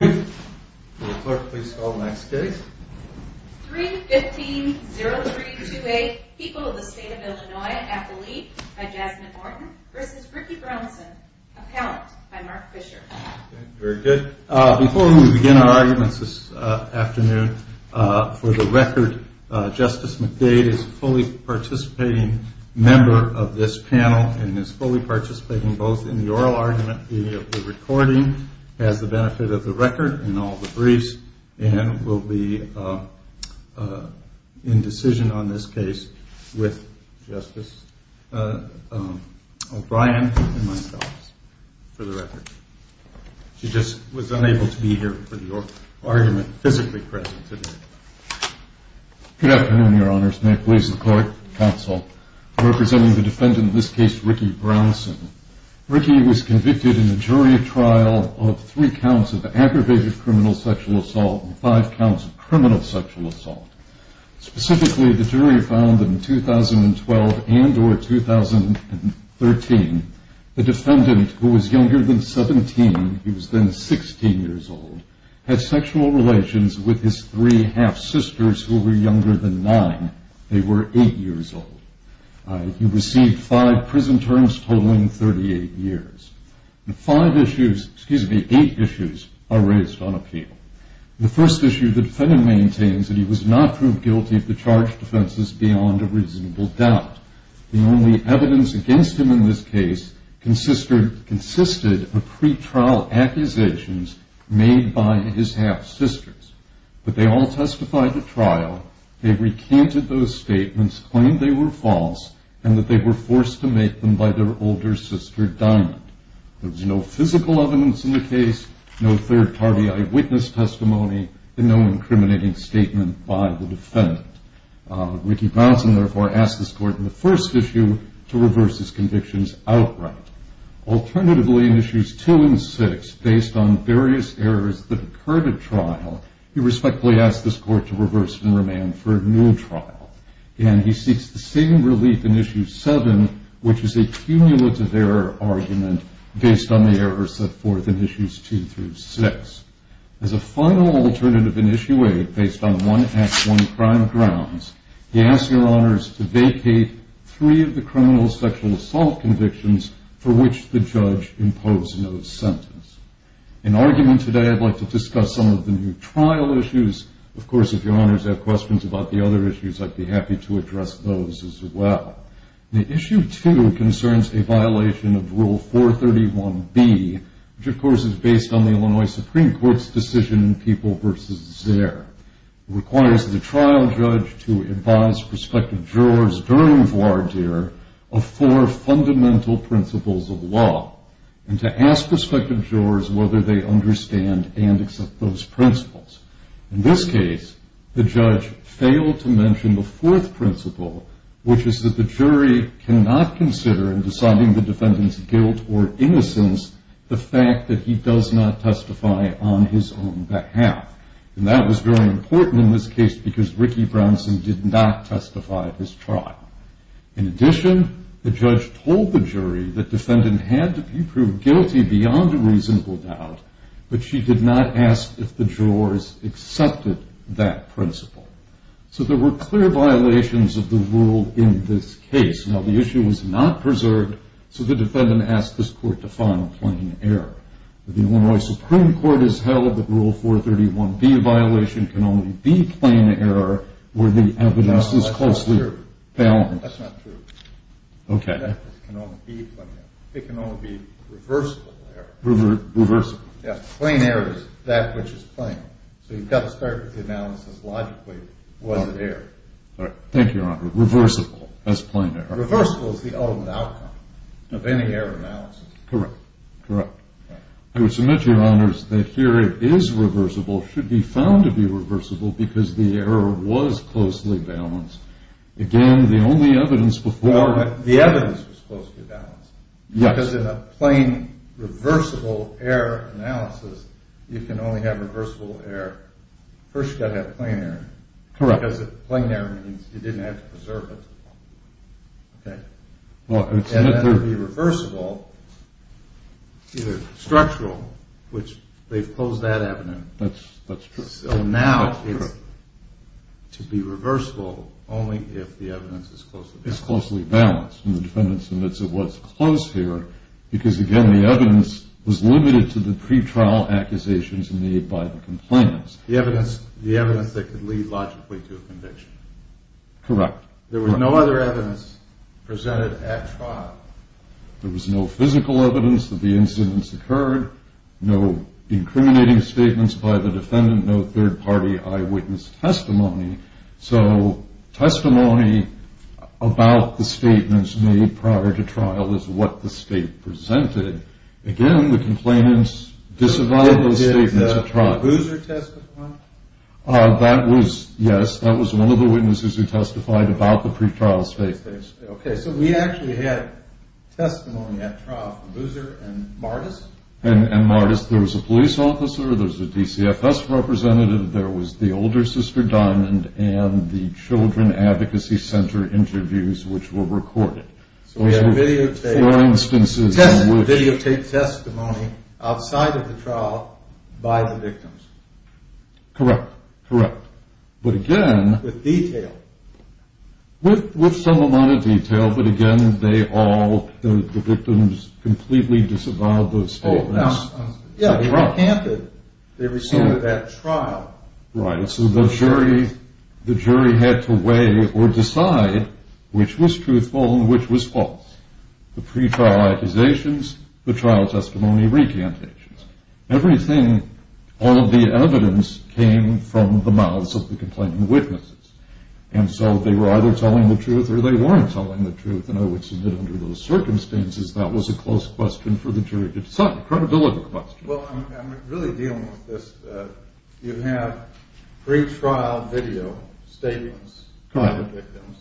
Before we begin our arguments this afternoon, for the record, Justice McDade is a fully participating member of this panel and is fully participating both in the oral argument and the recording as the benefit of the record and all the briefs, and will be in decision on this case with Justice O'Brien and myself, for the record. She just was unable to be here for the oral argument, physically present today. Justice O'Brien Good afternoon, Your Honors. May it please the Court, Counsel, representing the defendant in this case, Ricky Brownson. Ricky was convicted in a jury trial of three counts of aggravated criminal sexual assault and five counts of criminal sexual assault. Specifically, the jury found that in 2012 and or 2013, the defendant who was younger than 17, he was then 16 years old, had sexual relations with his three half-sisters who were younger than nine. They were eight years old. He received five prison terms totaling 38 years. Eight issues are raised on appeal. The first issue, the defendant maintains that he was not proved guilty of the charged offenses beyond a reasonable doubt. The only evidence against him in this case consisted of pretrial accusations made by his half-sisters. But they all testified at trial. They recanted those statements, claimed they were false, and that they were forced to make them by their older sister, Diamond. There was no physical evidence in the case, no third-party eyewitness testimony, and no incriminating statement by the defendant. Ricky Brownson, therefore, asks this Court in the first issue to reverse his convictions outright. Alternatively, in issues two and six, based on various errors that occurred at trial, he respectfully asks this Court to reverse and remand for a new argument in issue seven, which is a cumulative error argument based on the errors set forth in issues two through six. As a final alternative in issue eight, based on one act, one crime grounds, he asks Your Honors to vacate three of the criminal sexual assault convictions for which the judge imposed no sentence. In argument today, I'd like to discuss some of the new trial issues. Of course, if Your Honors have questions about the other issues, I'd be happy to address those as well. Issue two concerns a violation of Rule 431B, which of course is based on the Illinois Supreme Court's decision in People v. Zare. It requires the trial judge to advise prospective jurors during voir dire of four fundamental principles of law, and to ask prospective jurors whether they understand and accept those principles. In this case, the judge failed to mention the fourth principle, which is that the jury cannot consider in deciding the defendant's guilt or innocence the fact that he does not testify on his own behalf. And that was very important in this case because Ricky Brownson did not testify at his trial. In addition, the judge told the jury that defendant had to be proved guilty beyond a reasonable doubt, but she did not ask if the jurors accepted that principle. So there were clear violations of the rule in this case. Now, the issue was not preserved, so the defendant asked this court to find a plain error. The Illinois Supreme Court has held that Rule 431B violation can only be plain error where the evidence is closely balanced. That's not true. Okay. The evidence can only be plain error. It can only be reversible error. Reversible. Yes, plain error is that which is plain. So you've got to start with the analysis logically. Was it error? Thank you, Your Honor. Reversible as plain error. Reversible is the ultimate outcome of any error analysis. Correct. Correct. I would submit, Your Honors, that here it is reversible, should be found to be reversible, because the error was closely balanced. Again, the only evidence before... Well, the evidence was closely balanced. Yes. Because in a plain reversible error analysis, you can only have reversible error. First, you've got to have plain error. Correct. Because plain error means you didn't have to preserve it. Okay? Well, I would submit that... And that would be reversible, either structural, which they've closed that avenue. That's true. So now it's to be reversible only if the evidence is closely balanced. It's closely balanced. And the defendant submits it was close here, because again, the evidence was limited to the pretrial accusations made by the complainants. The evidence that could lead logically to a conviction. Correct. There was no other evidence presented at trial. There was no physical evidence that the incidents occurred, no incriminating statements by the defendant, no third-party eyewitness testimony. So testimony about the statements made prior to trial is what the state presented. Again, the complainants disavowed those statements at trial. Did Boozer testify? That was, yes, that was one of the witnesses who testified about the pretrial state. Okay, so we actually had testimony at trial for Boozer and Martis. And Martis, there was a police officer, there was a DCFS representative, there was the older sister, Diamond, and the Children Advocacy Center interviews, which were recorded. So we have videotaped testimony outside of the trial by the victims. Correct, correct. But again... With detail. With some amount of detail, but again, they all, the victims completely disavowed those statements. Oh, now, yeah, they recanted, they received it at trial. Right, so the jury had to weigh or decide which was truthful and which was false. The pretrial accusations, the trial testimony recantations. Everything, all of the evidence came from the mouths of the complaining witnesses. And so they were either telling the truth or they weren't telling the truth. And I would submit under those circumstances, that was a close question for the jury. It's a credibility question. Well, I'm really dealing with this. You have pretrial video statements by the victims.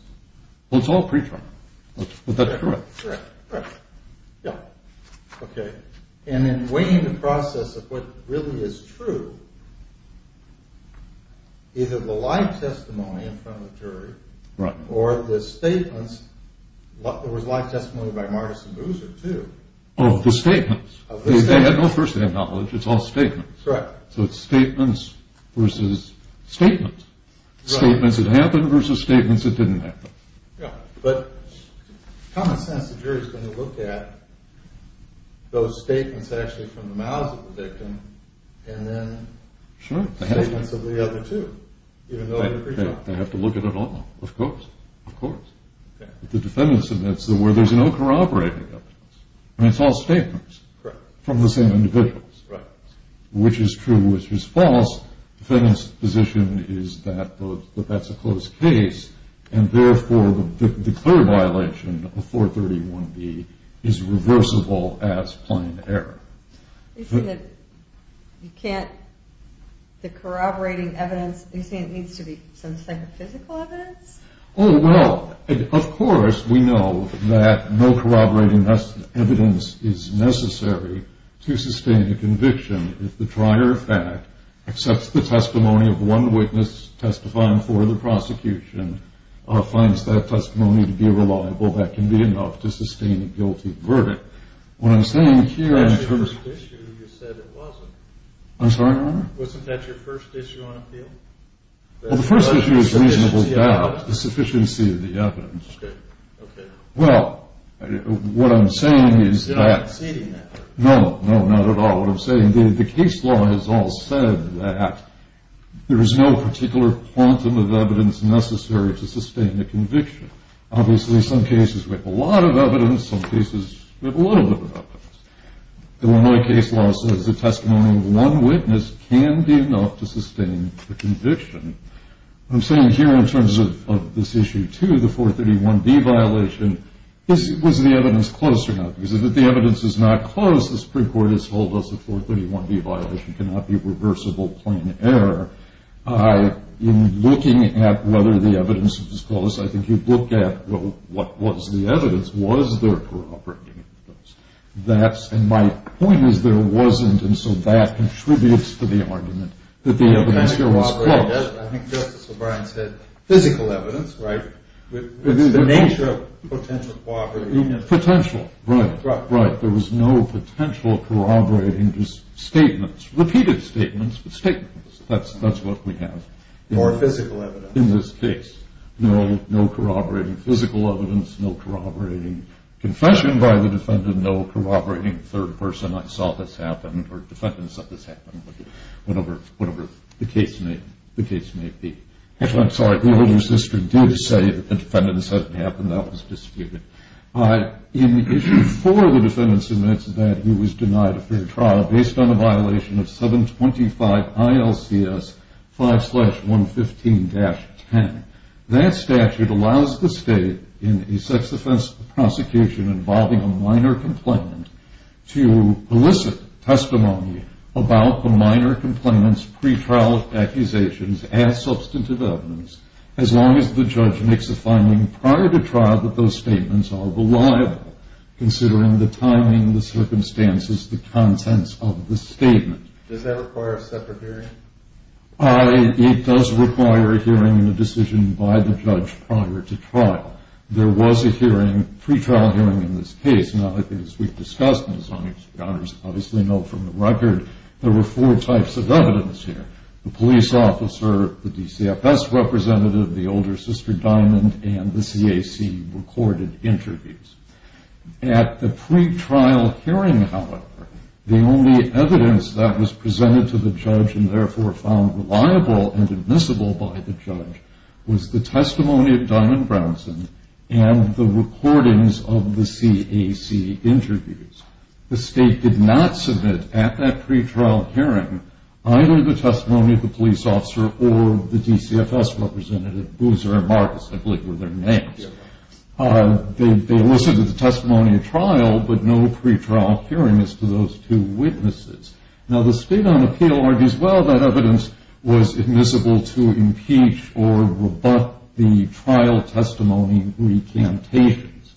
Well, it's all pretrial. But that's correct. Correct, correct. Yeah. Okay. And in weighing the process of what really is true, either the live testimony in front of the jury... Right. Or the statements, there was live testimony by Martis and Boozer, too. Oh, the statements. Of the statements. They had no firsthand knowledge, it's all statements. Correct. So it's statements versus statements. Right. Statements that happened versus statements that didn't happen. Yeah, but common sense, the jury's going to look at those statements actually from the mouths of the victim and then statements of the other two, even though they're pretrial. They have to look at it all. Of course. Of course. Okay. But the defendant submits where there's no corroborating evidence. I mean, it's all statements. Correct. From the same individuals. Right. Which is true, which is false. The defendant's position is that that's a close case, and therefore the clear violation of 431B is reversible as plain error. You say that you can't, the corroborating evidence, you say it needs to be some psychophysical evidence? Oh, well, of course we know that no corroborating evidence is necessary to sustain a conviction if the trier of fact accepts the testimony of one witness testifying for the prosecution, finds that testimony to be reliable, that can be enough to sustain a guilty verdict. What I'm saying here in terms of- That's your first issue. You said it wasn't. I'm sorry, Your Honor? Wasn't that your first issue on appeal? Well, the first issue is reasonable doubt, the sufficiency of the evidence. Okay. Okay. Well, what I'm saying is that- You're not conceding that. No. No, not at all. What I'm saying, the case law has all said that there is no particular quantum of evidence necessary to sustain a conviction. Obviously, some cases we have a lot of evidence, some cases we have a little bit of evidence. The Illinois case law says the testimony of one witness can be enough to sustain a conviction. What I'm saying here in terms of this issue, too, the 431B violation, was the evidence close or not? Because if the evidence is not close, the Supreme Court has told us the 431B violation cannot be reversible plain error. In looking at whether the evidence was close, I think you'd look at, well, what was the evidence? Was there corroborating evidence? And my point is there wasn't, and so that contributes to the argument that the evidence was close. I think Justice O'Brien said physical evidence, right? It's the nature of potential corroborating evidence. Potential, right, right. There was no potential corroborating statements. Repeated statements, but statements. That's what we have. Or physical evidence. In this case. No corroborating physical evidence, no corroborating confession by the defendant, no corroborating third person, I saw this happen or the defendant said this happened, whatever the case may be. Actually, I'm sorry, the older sister did say that the defendant said it happened. That was disputed. In issue 4, the defendant submits that he was denied a fair trial based on a violation of 725 ILCS 5-115-10. That statute allows the state in a sex offense prosecution involving a minor complainant to elicit testimony about the minor complainant's pretrial accusations as substantive evidence as long as the judge makes a finding prior to trial that those statements are reliable considering the timing, the circumstances, the contents of the statement. Does that require a separate hearing? It does require a hearing and a decision by the judge prior to trial. There was a hearing, a pretrial hearing in this case. Now, as we've discussed, and as honorees obviously know from the record, there were four types of evidence here. The police officer, the DCFS representative, the older sister, Diamond, and the CAC recorded interviews. At the pretrial hearing, however, the only evidence that was presented to the judge and therefore found reliable and admissible by the judge was the testimony of Diamond Brownson and the recordings of the CAC interviews. The state did not submit at that pretrial hearing either the testimony of the police officer or the DCFS representative, Boozer and Marcus, I believe were their names. They elicited the testimony at trial, but no pretrial hearing as to those two witnesses. Now, the State on Appeal argues, well, that evidence was admissible to impeach or rebut the trial testimony recantations.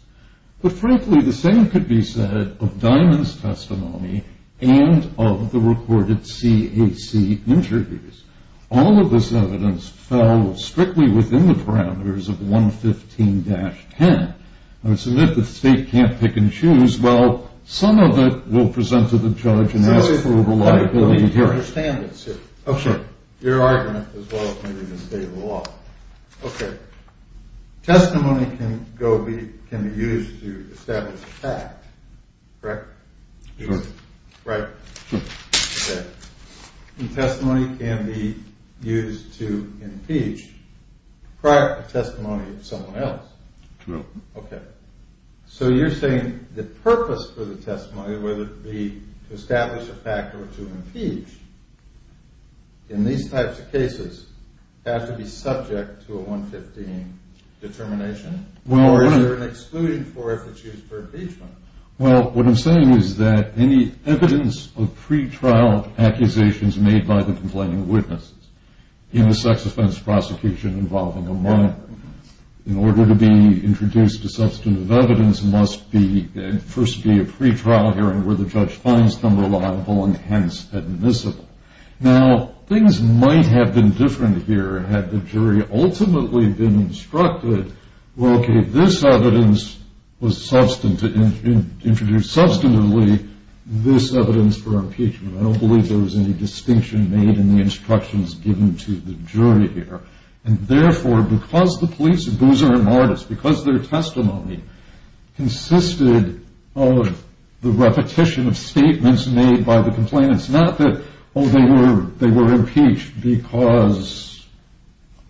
But frankly, the same could be said of Diamond's testimony and of the recorded CAC interviews. All of this evidence fell strictly within the parameters of 115-10. It's a myth that the state can't pick and choose. Well, some of it will present to the judge and ask for reliability. Okay. Your argument as well as maybe the state of the law. Okay. Testimony can be used to establish a fact, correct? Sure. Right. Sure. Okay. And testimony can be used to impeach prior to testimony of someone else. Correct. Okay. So you're saying the purpose for the testimony, whether it be to establish a fact or to impeach, in these types of cases have to be subject to a 115 determination, or is there an exclusion for it if it's used for impeachment? Well, what I'm saying is that any evidence of pretrial accusations made by the complaining witnesses in a sex offense prosecution involving a minor, in order to be introduced to substantive evidence, must first be a pretrial hearing where the judge finds them reliable and hence admissible. Now, things might have been different here had the jury ultimately been instructed, well, okay, this evidence was introduced substantively, this evidence for impeachment. I don't believe there was any distinction made in the instructions given to the jury here. And therefore, because the police abuser and martyrs, because their testimony consisted of the repetition of statements made by the complainants, not that, oh, they were impeached because,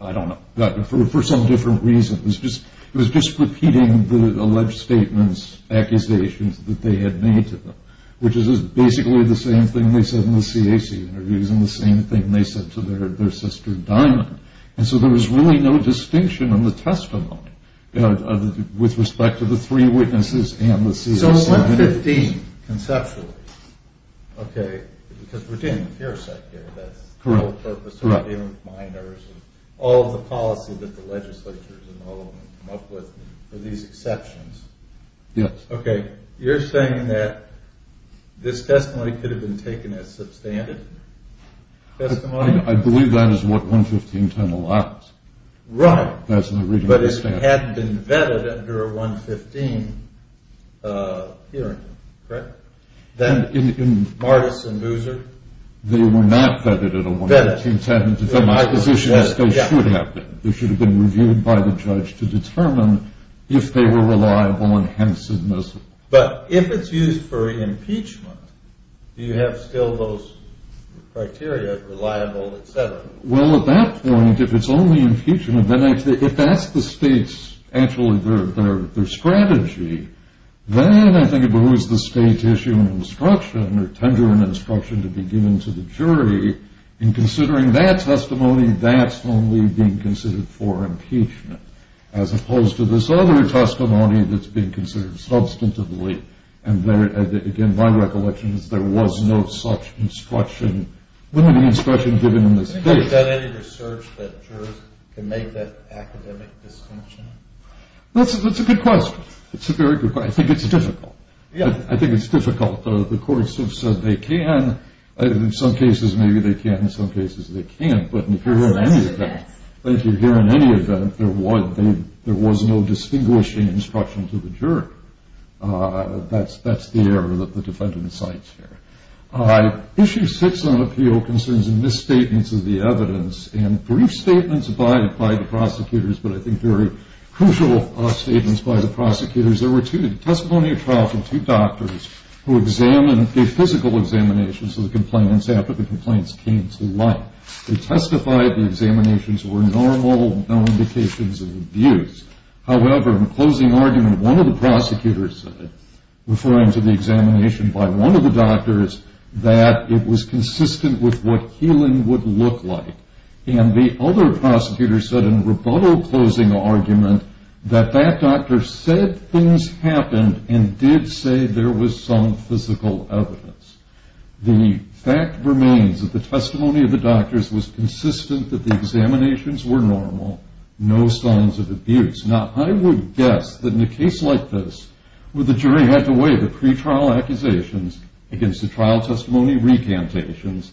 I don't know, for some different reason. It was just repeating the alleged statements, accusations that they had made to them, which is basically the same thing they said in the CAC interviews and the same thing they said to their sister, Diamond. And so there was really no distinction in the testimony, with respect to the three witnesses and the CAC. So 115, conceptually, okay, because we're getting the fear set here. That's the whole purpose of giving minors, and all of the policy that the legislatures and all of them come up with are these exceptions. Yes. Okay. You're saying that this testimony could have been taken as substandard testimony? I believe that is what 115.10 allows. Right. That's the reading of the statute. But it had been vetted under a 115 hearing, correct? Martis and Boozer? They were not vetted at a 115.10. Vetted. They should have been. But if it's used for impeachment, do you have still those criteria, reliable, et cetera? Well, at that point, if it's only impeachment, if that's the state's actual strategy, then I think it behooves the state to issue an instruction or tender an instruction to be given to the jury. In considering that testimony, that's only being considered for impeachment, as opposed to this other testimony that's being considered substantively. And, again, my recollection is there was no such instruction, limited instruction given in this case. Have you done any research that jurors can make that academic distinction? That's a good question. It's a very good question. I think it's difficult. I think it's difficult. The courts have said they can. In some cases, maybe they can. In some cases, they can't. But if you're here in any event, there was no distinguishing instruction to the jury. That's the error that the defendant cites here. Issue six on appeal concerns misstatements of the evidence and brief statements by the prosecutors, but I think very crucial statements by the prosecutors. There were two testimonial trials of two doctors who examined the physical examinations of the complainants after the complaints came to light. They testified the examinations were normal, no indications of abuse. However, in a closing argument, one of the prosecutors said, referring to the examination by one of the doctors, that it was consistent with what healing would look like. And the other prosecutor said in a rebuttal closing argument that that doctor said things happened and did say there was some physical evidence. The fact remains that the testimony of the doctors was consistent that the examinations were normal, no signs of abuse. Now, I would guess that in a case like this where the jury had to weigh the pretrial accusations against the trial testimony recantations,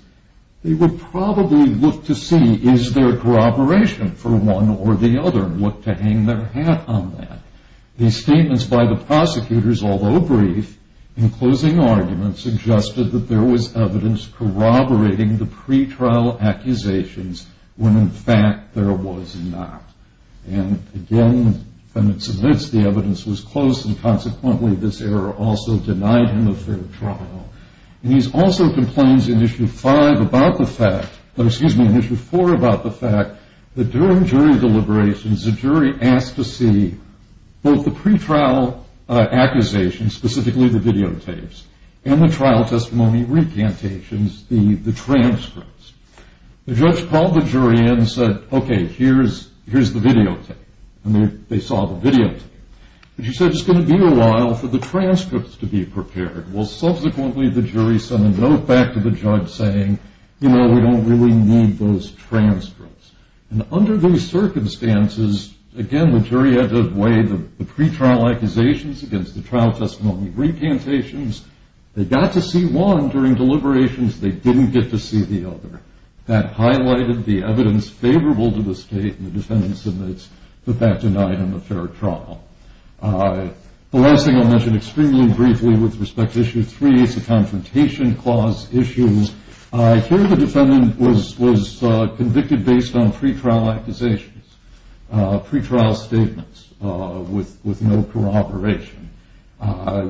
they would probably look to see is there corroboration for one or the other and what to hang their hat on that. These statements by the prosecutors, although brief, in closing arguments suggested that there was evidence corroborating the pretrial accusations when, in fact, there was not. And again, when it submits, the evidence was close and consequently this error also denied him a fair trial. And he also complains in Issue 4 about the fact that during jury deliberations the jury asked to see both the pretrial accusations, specifically the videotapes, and the trial testimony recantations, the transcripts. The judge called the jury in and said, okay, here's the videotape, and they saw the videotape. And she said, it's going to be a while for the transcripts to be prepared. Well, subsequently the jury sent a note back to the judge saying, you know, we don't really need those transcripts. And under those circumstances, again, the jury had to weigh the pretrial accusations against the trial testimony recantations. They got to see one during deliberations. They didn't get to see the other. That highlighted the evidence favorable to the state, and the defendant submits that that denied him a fair trial. The last thing I'll mention extremely briefly with respect to Issue 3 is the Confrontation Clause issues. Here the defendant was convicted based on pretrial accusations, pretrial statements with no corroboration.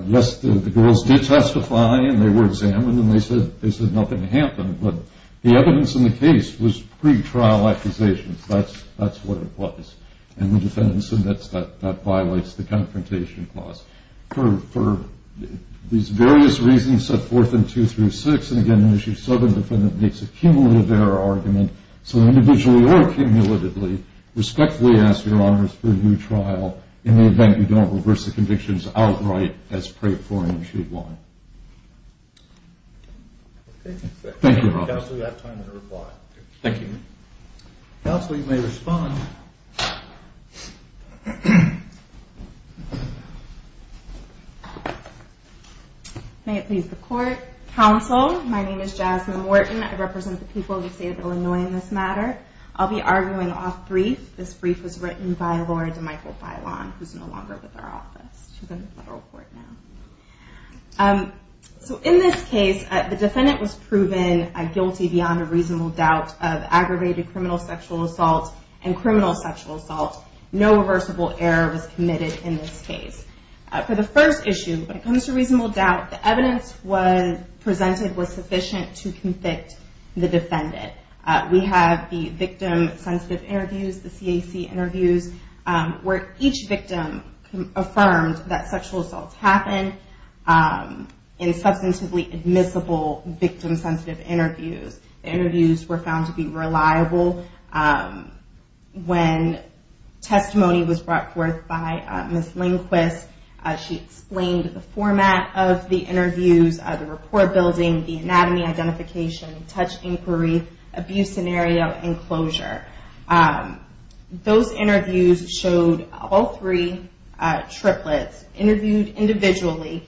Yes, the girls did testify, and they were examined, and they said nothing happened. But the evidence in the case was pretrial accusations. That's what it was. And the defendant submits that that violates the Confrontation Clause. For these various reasons set forth in 2 through 6, and again in Issue 7, the defendant makes a cumulative error argument. So individually or cumulatively, respectfully ask Your Honors for a new trial in the event you don't reverse the convictions outright as pre-formed in Issue 1. Thank you. Counsel, you have time to reply. Thank you. Counsel, you may respond. May it please the Court. Counsel, my name is Jasmine Wharton. I represent the people of the state of Illinois in this matter. I'll be arguing off-brief. This brief was written by Laura DeMichael Bailon, who's no longer with our office. She's in the federal court now. So in this case, the defendant was proven guilty beyond a reasonable doubt of aggravated criminal sexual assault and criminal sexual assault. No reversible error was committed in this case. For the first issue, when it comes to reasonable doubt, the evidence presented was sufficient to convict the defendant. We have the victim-sensitive interviews, the CAC interviews, where each victim affirmed that sexual assaults happen in substantively admissible victim-sensitive interviews. The interviews were found to be reliable. When testimony was brought forth by Ms. Lindquist, she explained the format of the interviews, the report building, the anatomy identification, touch inquiry, abuse scenario, and closure. Those interviews showed all three triplets interviewed individually,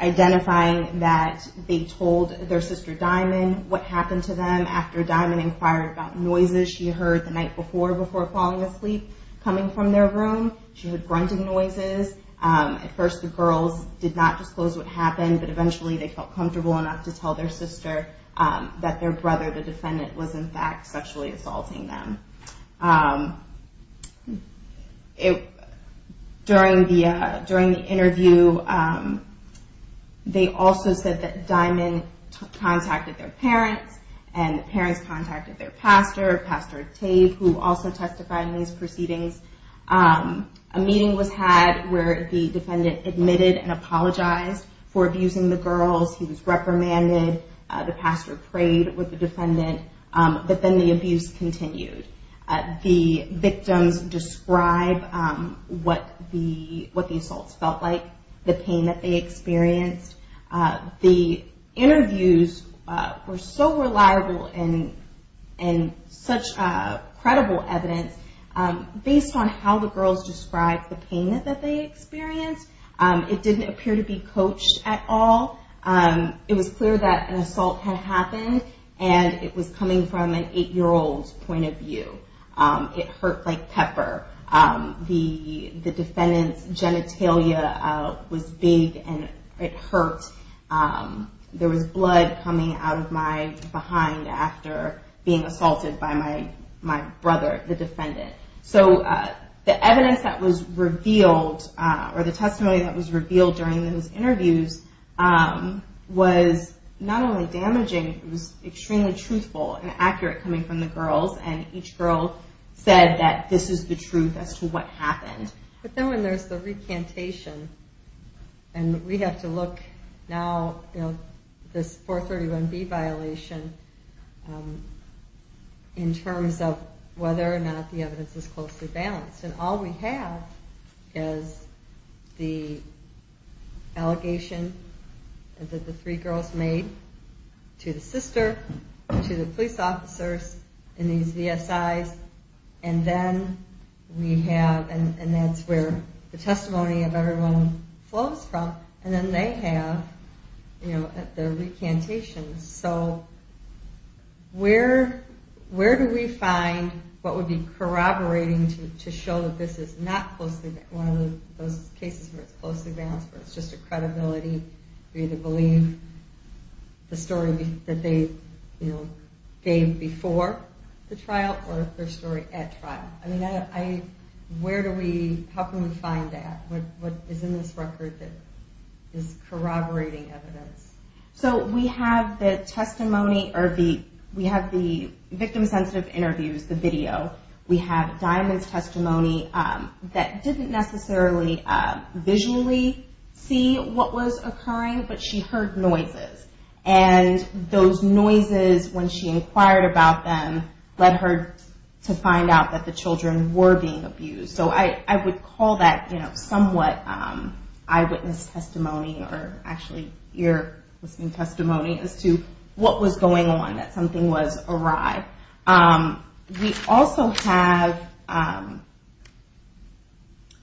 identifying that they told their sister, Diamond, what happened to them. After Diamond inquired about noises she heard the night before, before falling asleep, coming from their room, she heard grunting noises. At first, the girls did not disclose what happened, but eventually they felt comfortable enough to tell their sister that their brother, the defendant, was in fact sexually assaulting them. During the interview, they also said that Diamond contacted their parents, and the parents contacted their pastor, Pastor Tate, who also testified in these proceedings. A meeting was had where the defendant admitted and apologized for abusing the girls. He was reprimanded. The pastor prayed with the defendant, but then the abuse continued. The victims described what the assaults felt like, the pain that they experienced. The interviews were so reliable and such credible evidence. Based on how the girls described the pain that they experienced, it didn't appear to be coached at all. It was clear that an assault had happened, and it was coming from an 8-year-old's point of view. It hurt like pepper. The defendant's genitalia was big, and it hurt. There was blood coming out of my behind after being assaulted by my brother, the defendant. The evidence that was revealed, or the testimony that was revealed during those interviews was not only damaging, it was extremely truthful and accurate coming from the girls, and each girl said that this is the truth as to what happened. But then when there's the recantation, and we have to look now at this 431B violation in terms of whether or not the evidence is closely balanced. All we have is the allegation that the three girls made to the sister, to the police officers in these VSIs, and that's where the testimony of everyone flows from, and then they have their recantations. So where do we find what would be corroborating to show that this is not one of those cases where it's closely balanced, where it's just a credibility? We either believe the story that they gave before the trial, or their story at trial. How can we find that? What is in this record that is corroborating evidence? So we have the testimony, or we have the victim-sensitive interviews, the video, we have Diamond's testimony that didn't necessarily visually see what was occurring, but she heard noises. And those noises, when she inquired about them, led her to find out that the children were being abused. So I would call that somewhat eyewitness testimony, or actually ear-listening testimony, as to what was going on, that something was awry. We also have a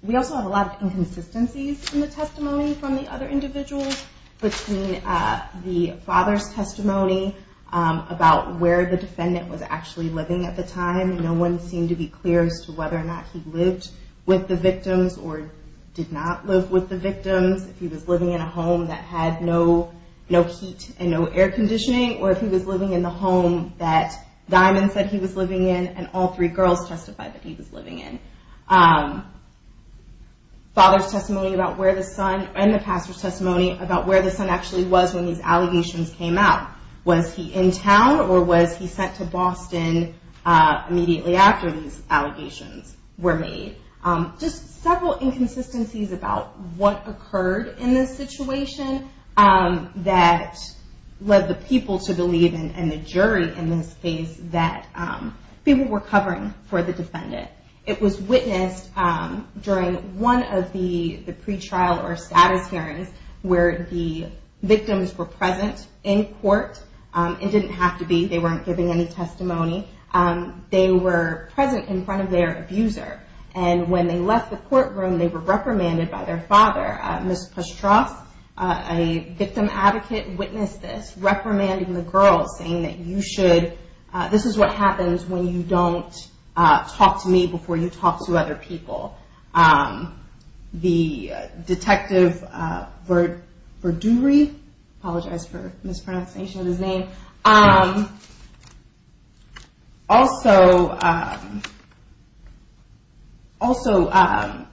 lot of inconsistencies in the testimony from the other individuals between the father's testimony about where the defendant was actually living at the time. No one seemed to be clear as to whether or not he lived with the victims or did not live with the victims. If he was living in a home that had no heat and no air conditioning, or if he was living in the home that Diamond said he was living in and all three girls testified that he was living in. Father's testimony and the pastor's testimony about where the son actually was when these allegations came out. Was he in town, or was he sent to Boston immediately after these allegations were made? Just several inconsistencies about what occurred in this situation that led the people to believe, and the jury in this case, that people were covering for the defendant. It was witnessed during one of the pre-trial or status hearings where the victims were present in court. It didn't have to be, they weren't giving any testimony. They were present in front of their abuser, and when they left the courtroom, they were reprimanded by their father. Ms. Pastros, a victim advocate, witnessed this, reprimanding the girls, saying that you should, this is what happens when you don't talk to me before you talk to other people. The detective Verduri, I apologize for mispronunciation of his name, also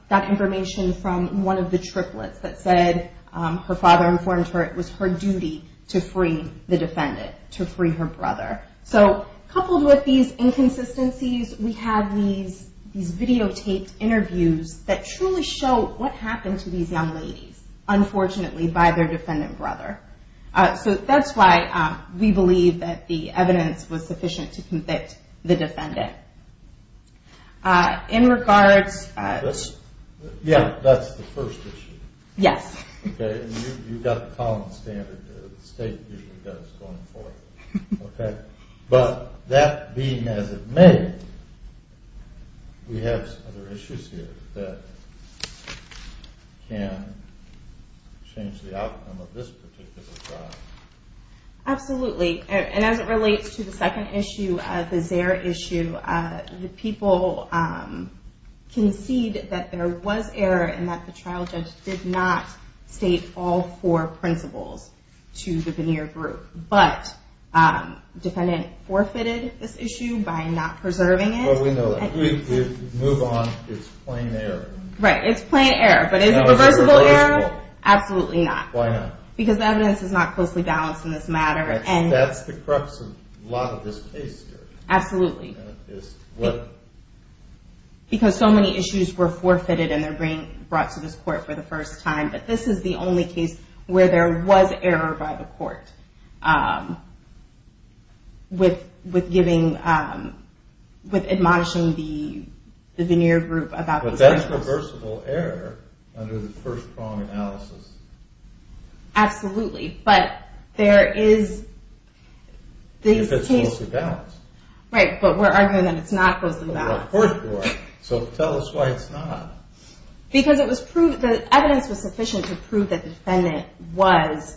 got information from one of the triplets that said her father informed her it was her duty to free the defendant, to free her brother. Coupled with these inconsistencies, we have these videotaped interviews that truly show what happened to these young ladies, unfortunately, by their defendant brother. So that's why we believe that the evidence was sufficient to convict the defendant. In regards... Yeah, that's the first issue. Yes. You've got the common standard that the state usually does going forward. But that being as it may, we have some other issues here that can change the outcome of this particular trial. Absolutely. And as it relates to the second issue, the Zaire issue, the people concede that there was error and that the trial judge did not state all four principles to the veneer group. But the defendant forfeited this issue by not preserving it. Well, we know that. If we move on, it's plain error. Right, it's plain error. But is it reversible error? Absolutely not. Why not? Because the evidence is not closely balanced in this matter. That's the crux of a lot of this case. Absolutely. Because so many issues were forfeited and they're being brought to this court for the first time. But this is the only case where there was error by the court with giving... with admonishing the veneer group. But that's reversible error under the first prong analysis. Absolutely, but there is... If it's closely balanced. Right, but we're arguing that it's not closely balanced. So tell us why it's not. Because the evidence was sufficient to prove that the defendant was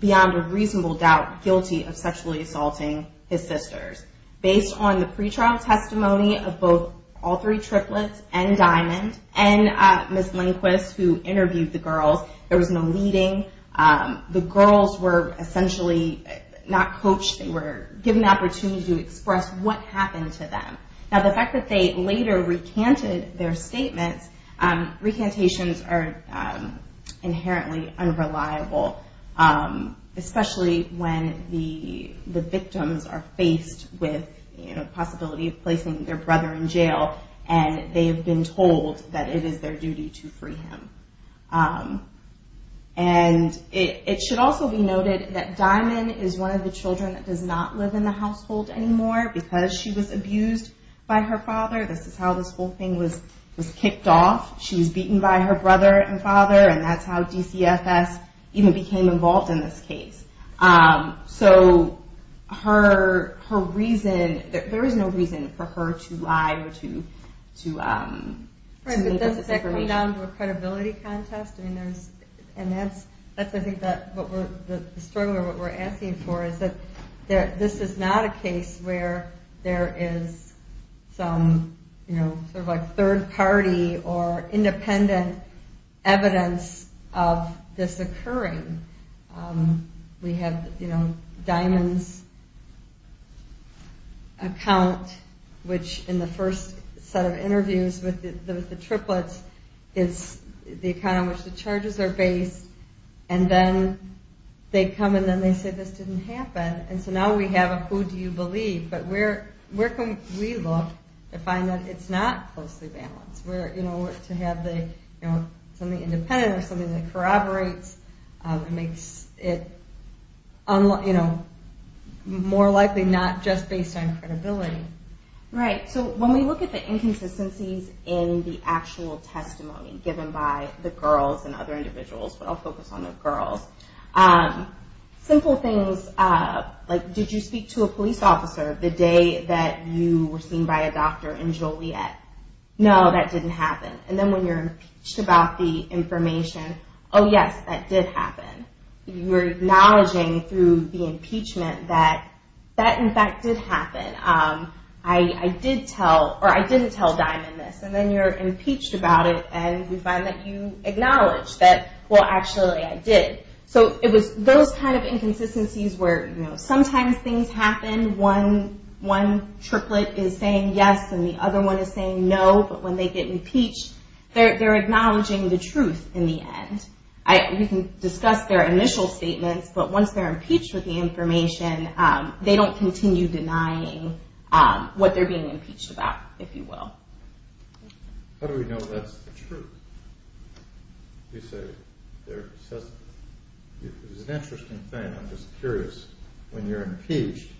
beyond a reasonable doubt guilty of sexually assaulting his sisters. Based on the pre-trial testimony of both all three triplets and Diamond and Ms. Lindquist who interviewed the girls, there was no leading. The girls were essentially not coached. They were given the opportunity to express what happened to them. Now the fact that they later recanted their statements, recantations are inherently unreliable. Especially when the victims are faced with the possibility of placing their brother in jail and they've been told that it is their duty to free him. And it should also be noted that Diamond is one of the children that does not live in the household anymore because she was abused by her father. This is how this whole thing was kicked off. She was beaten by her brother and father and that's how DCFS even became involved in this case. So her reason... There is no reason for her to lie or to make up this information. We're coming down to a credibility contest and the struggle we're asking for is that this is not a case where there is some third party or independent evidence of this occurring. We have Diamond's account which in the first set of interviews with the triplets is the account on which the charges are based and then they come and say this didn't happen and so now we have a who do you believe but where can we look to find that it's not closely balanced? To have something independent or something that corroborates makes it more likely not just based on credibility. When we look at the inconsistencies in the actual testimony given by the girls and other individuals simple things like did you speak to a police officer the day that you were seen by a doctor in Joliet? No, that didn't happen. And then when you're impeached about the information oh yes, that did happen. You're acknowledging through the impeachment that that in fact did happen. I didn't tell Diamond this and then you're impeached about it and we find that you acknowledge that well actually I did. So it was those kind of inconsistencies where sometimes things happen, one triplet is saying yes and the other one is saying no but when they get impeached they're acknowledging the truth in the end. You can discuss their initial statements but once they're impeached with the information they don't continue denying what they're being impeached about, if you will. How do we know that's the truth? You say there's an interesting thing, I'm just curious, when you're impeached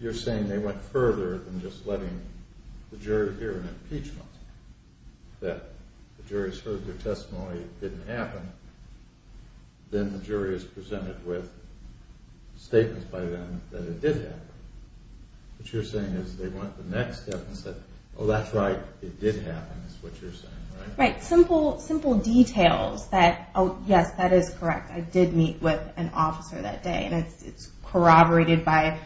you're saying they went further than just letting the jury hear an impeachment that the jury's heard their testimony it didn't happen, then the jury is presented with statements by them that it did happen. What you're saying is they went the next step and said oh that's right, it did happen is what you're saying, right? Right, simple details that oh yes, that is correct, I did meet with an officer that day and it's corroborated by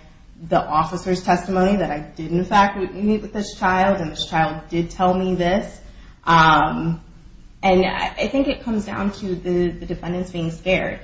the officer's testimony that I did meet with this child and this child did tell me this and I think it comes down to the defendant's being scared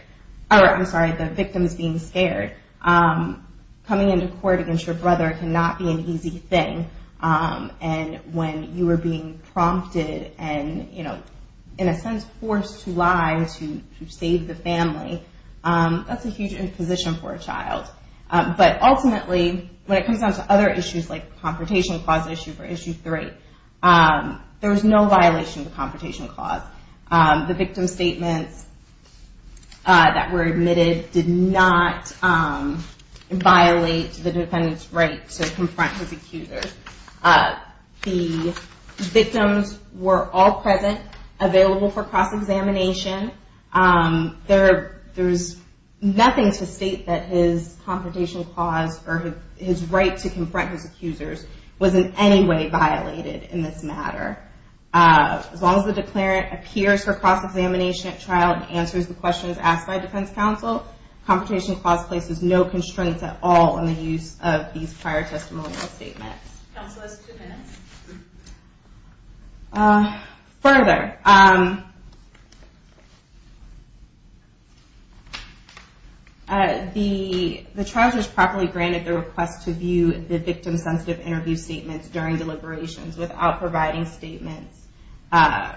I'm sorry, the victim's being scared coming into court against your brother cannot be an easy thing and when you are being prompted and in a sense forced to lie to save the family that's a huge imposition for a child but ultimately when it comes down to other issues like the Confrontation Clause issue for Issue 3 there was no violation of the Confrontation Clause the victim's statements that were admitted did not violate the defendant's right to confront his accusers the victims were all present, available for cross-examination there's nothing to state that his Confrontation Clause or his right to confront his accusers was in any way violated in this matter as long as the declarant appears for cross-examination at trial and answers the questions asked by defense counsel Confrontation Clause places no constraints at all on the use of these prior testimonial statements further the trial judge properly granted the request to view the victim-sensitive interview statements during deliberations without providing statements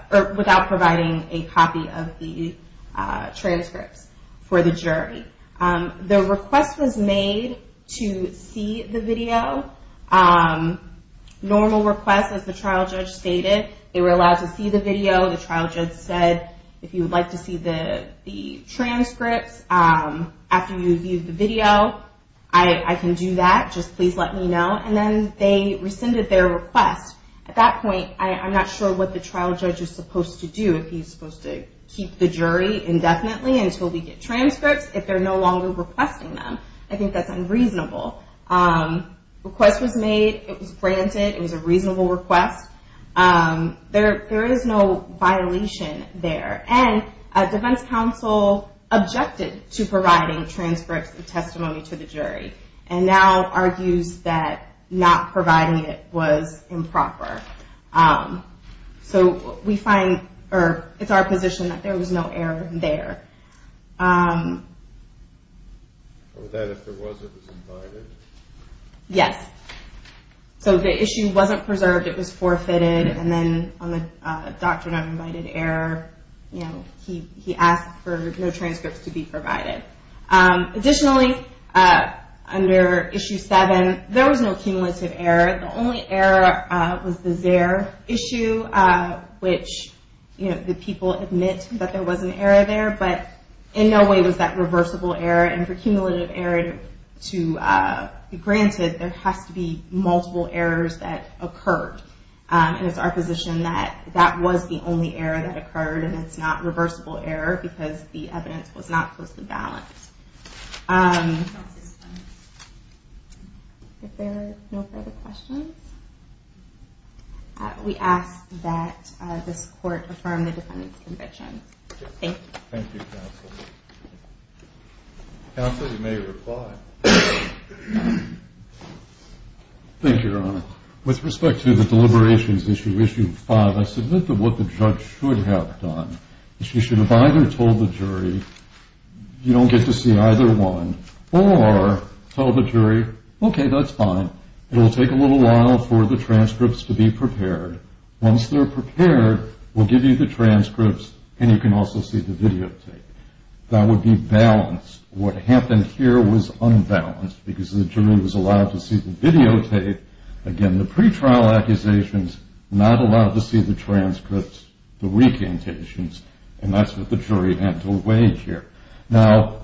without providing a copy of the transcripts for the jury the request was made to see the video normal request as the trial judge stated they were allowed to see the video the trial judge said if you would like to see the transcripts after you've viewed the video I can do that, just please let me know and then they rescinded their request at that point, I'm not sure what the trial judge is supposed to do if he's supposed to keep the jury indefinitely until we get transcripts if they're no longer requesting them I think that's unreasonable the request was made, it was granted it was a reasonable request there is no violation there and defense counsel objected to providing transcripts and testimony to the jury and now argues that not providing it was improper so we find it's our position that there was no error there yes so the issue wasn't preserved, it was forfeited and then on the doctrine of invited error he asked for no transcripts to be provided additionally under issue 7, there was no cumulative error the only error was the Zare issue which the people admit that there was an error there but in no way was that reversible error and for cumulative error to be granted there has to be multiple errors that occurred and it's our position that that was the only error that occurred and it's not reversible error because the evidence was not closely balanced if there are no further questions we ask that this court affirm the defendant's conviction thank you counsel you may reply thank you your honor with respect to the deliberations issue, issue 5 I submit that what the judge should have done is she should have either told the jury you don't get to see either one or told the jury, okay that's fine it'll take a little while for the transcripts to be prepared once they're prepared, we'll give you the transcripts and you can also see the videotape that would be balanced what happened here was unbalanced because the jury was allowed to see the videotape again the pretrial accusations, not allowed to see the transcripts the recantations and that's what the jury had to wage here now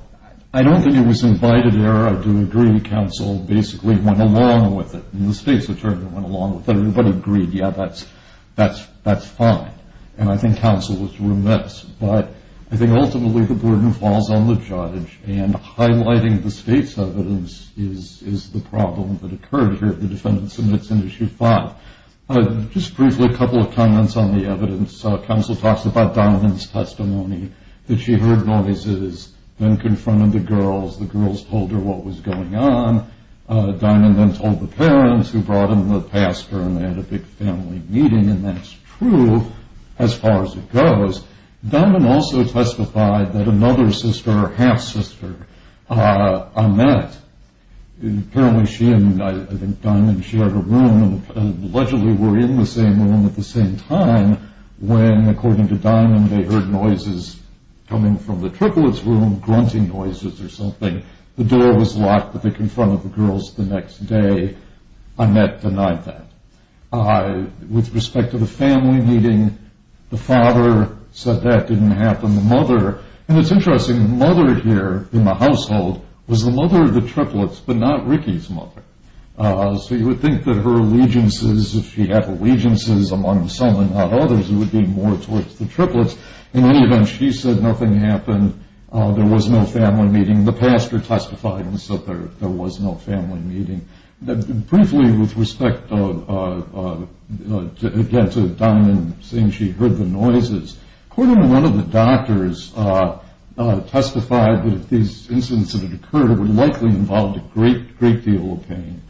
I don't think it was invited error I do agree counsel basically went along with it and the state's attorney went along with it everybody agreed yeah that's fine and I think counsel was remiss but I think ultimately the burden falls on the judge and highlighting the state's evidence is the problem that occurred here if the defendant submits in issue 5 just briefly a couple of comments on the evidence counsel talks about Dimond's testimony that she heard noises then confronted the girls the girls told her what was going on Dimond then told the parents who brought in the pastor and they had a big family meeting and that's true as far as it goes, Dimond also testified that another sister, her half sister Annette, apparently she and allegedly were in the same room at the same time when according to Dimond they heard noises coming from the triplets room, grunting noises or something, the door was locked but they confronted the girls the next day, Annette denied that with respect to the family meeting the father said that didn't happen the mother, and it's interesting the mother here in the household was the mother of the triplets but not Ricky's so you would think that her allegiances if she had allegiances among some and not others it would be more towards the triplets, in any event she said nothing happened, there was no family meeting the pastor testified and said there was no family meeting briefly with respect to Dimond saying she heard the noises according to one of the doctors testified that if these incidents occurred it would likely involve a great deal of pain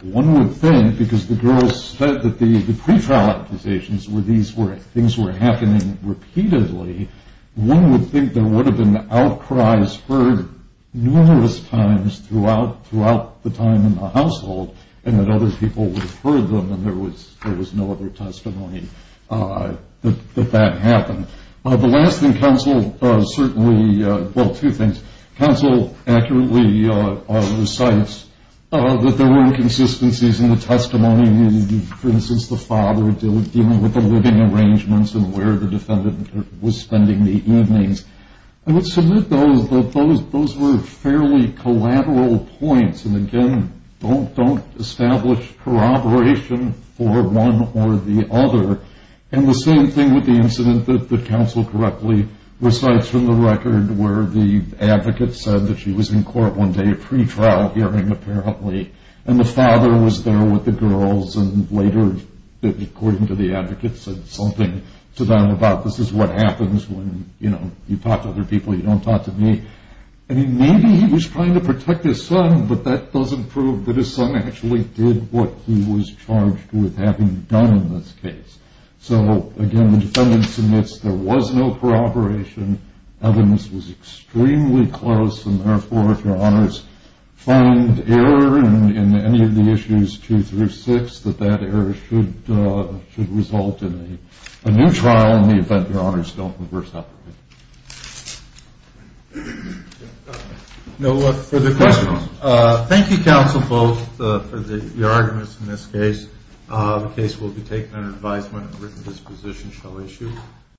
one would think because the girls said that the pre-trial accusations things were happening repeatedly one would think there would have been outcries heard numerous times throughout the time in the household and that other people would have heard them and there was no other testimony that that happened, the last thing counsel certainly, well two things counsel accurately recites that there were inconsistencies in the testimony for instance the father dealing with the living arrangements and where the defendant was spending the evenings I would submit that those were fairly collateral points and again don't establish corroboration for one or the other and the same thing with the incident that the counsel correctly recites from the record where the advocate said that she was in court one day, pre-trial hearing apparently, and the father was there with the girls and later according to the advocate said something to them about this is what happens when you talk to other people you don't talk to me maybe he was trying to protect his son but that doesn't prove that his son actually did what he was charged with having done in this case so again the defendant submits there was no corroboration, evidence was extremely close and therefore if your honors find error in any of the issues 2 through 6 that that error should result in a new trial in the event your honors don't reverse operate. No further questions? Thank you counsel both for your arguments in this case. The case will be taken under advisement and written disposition shall issue.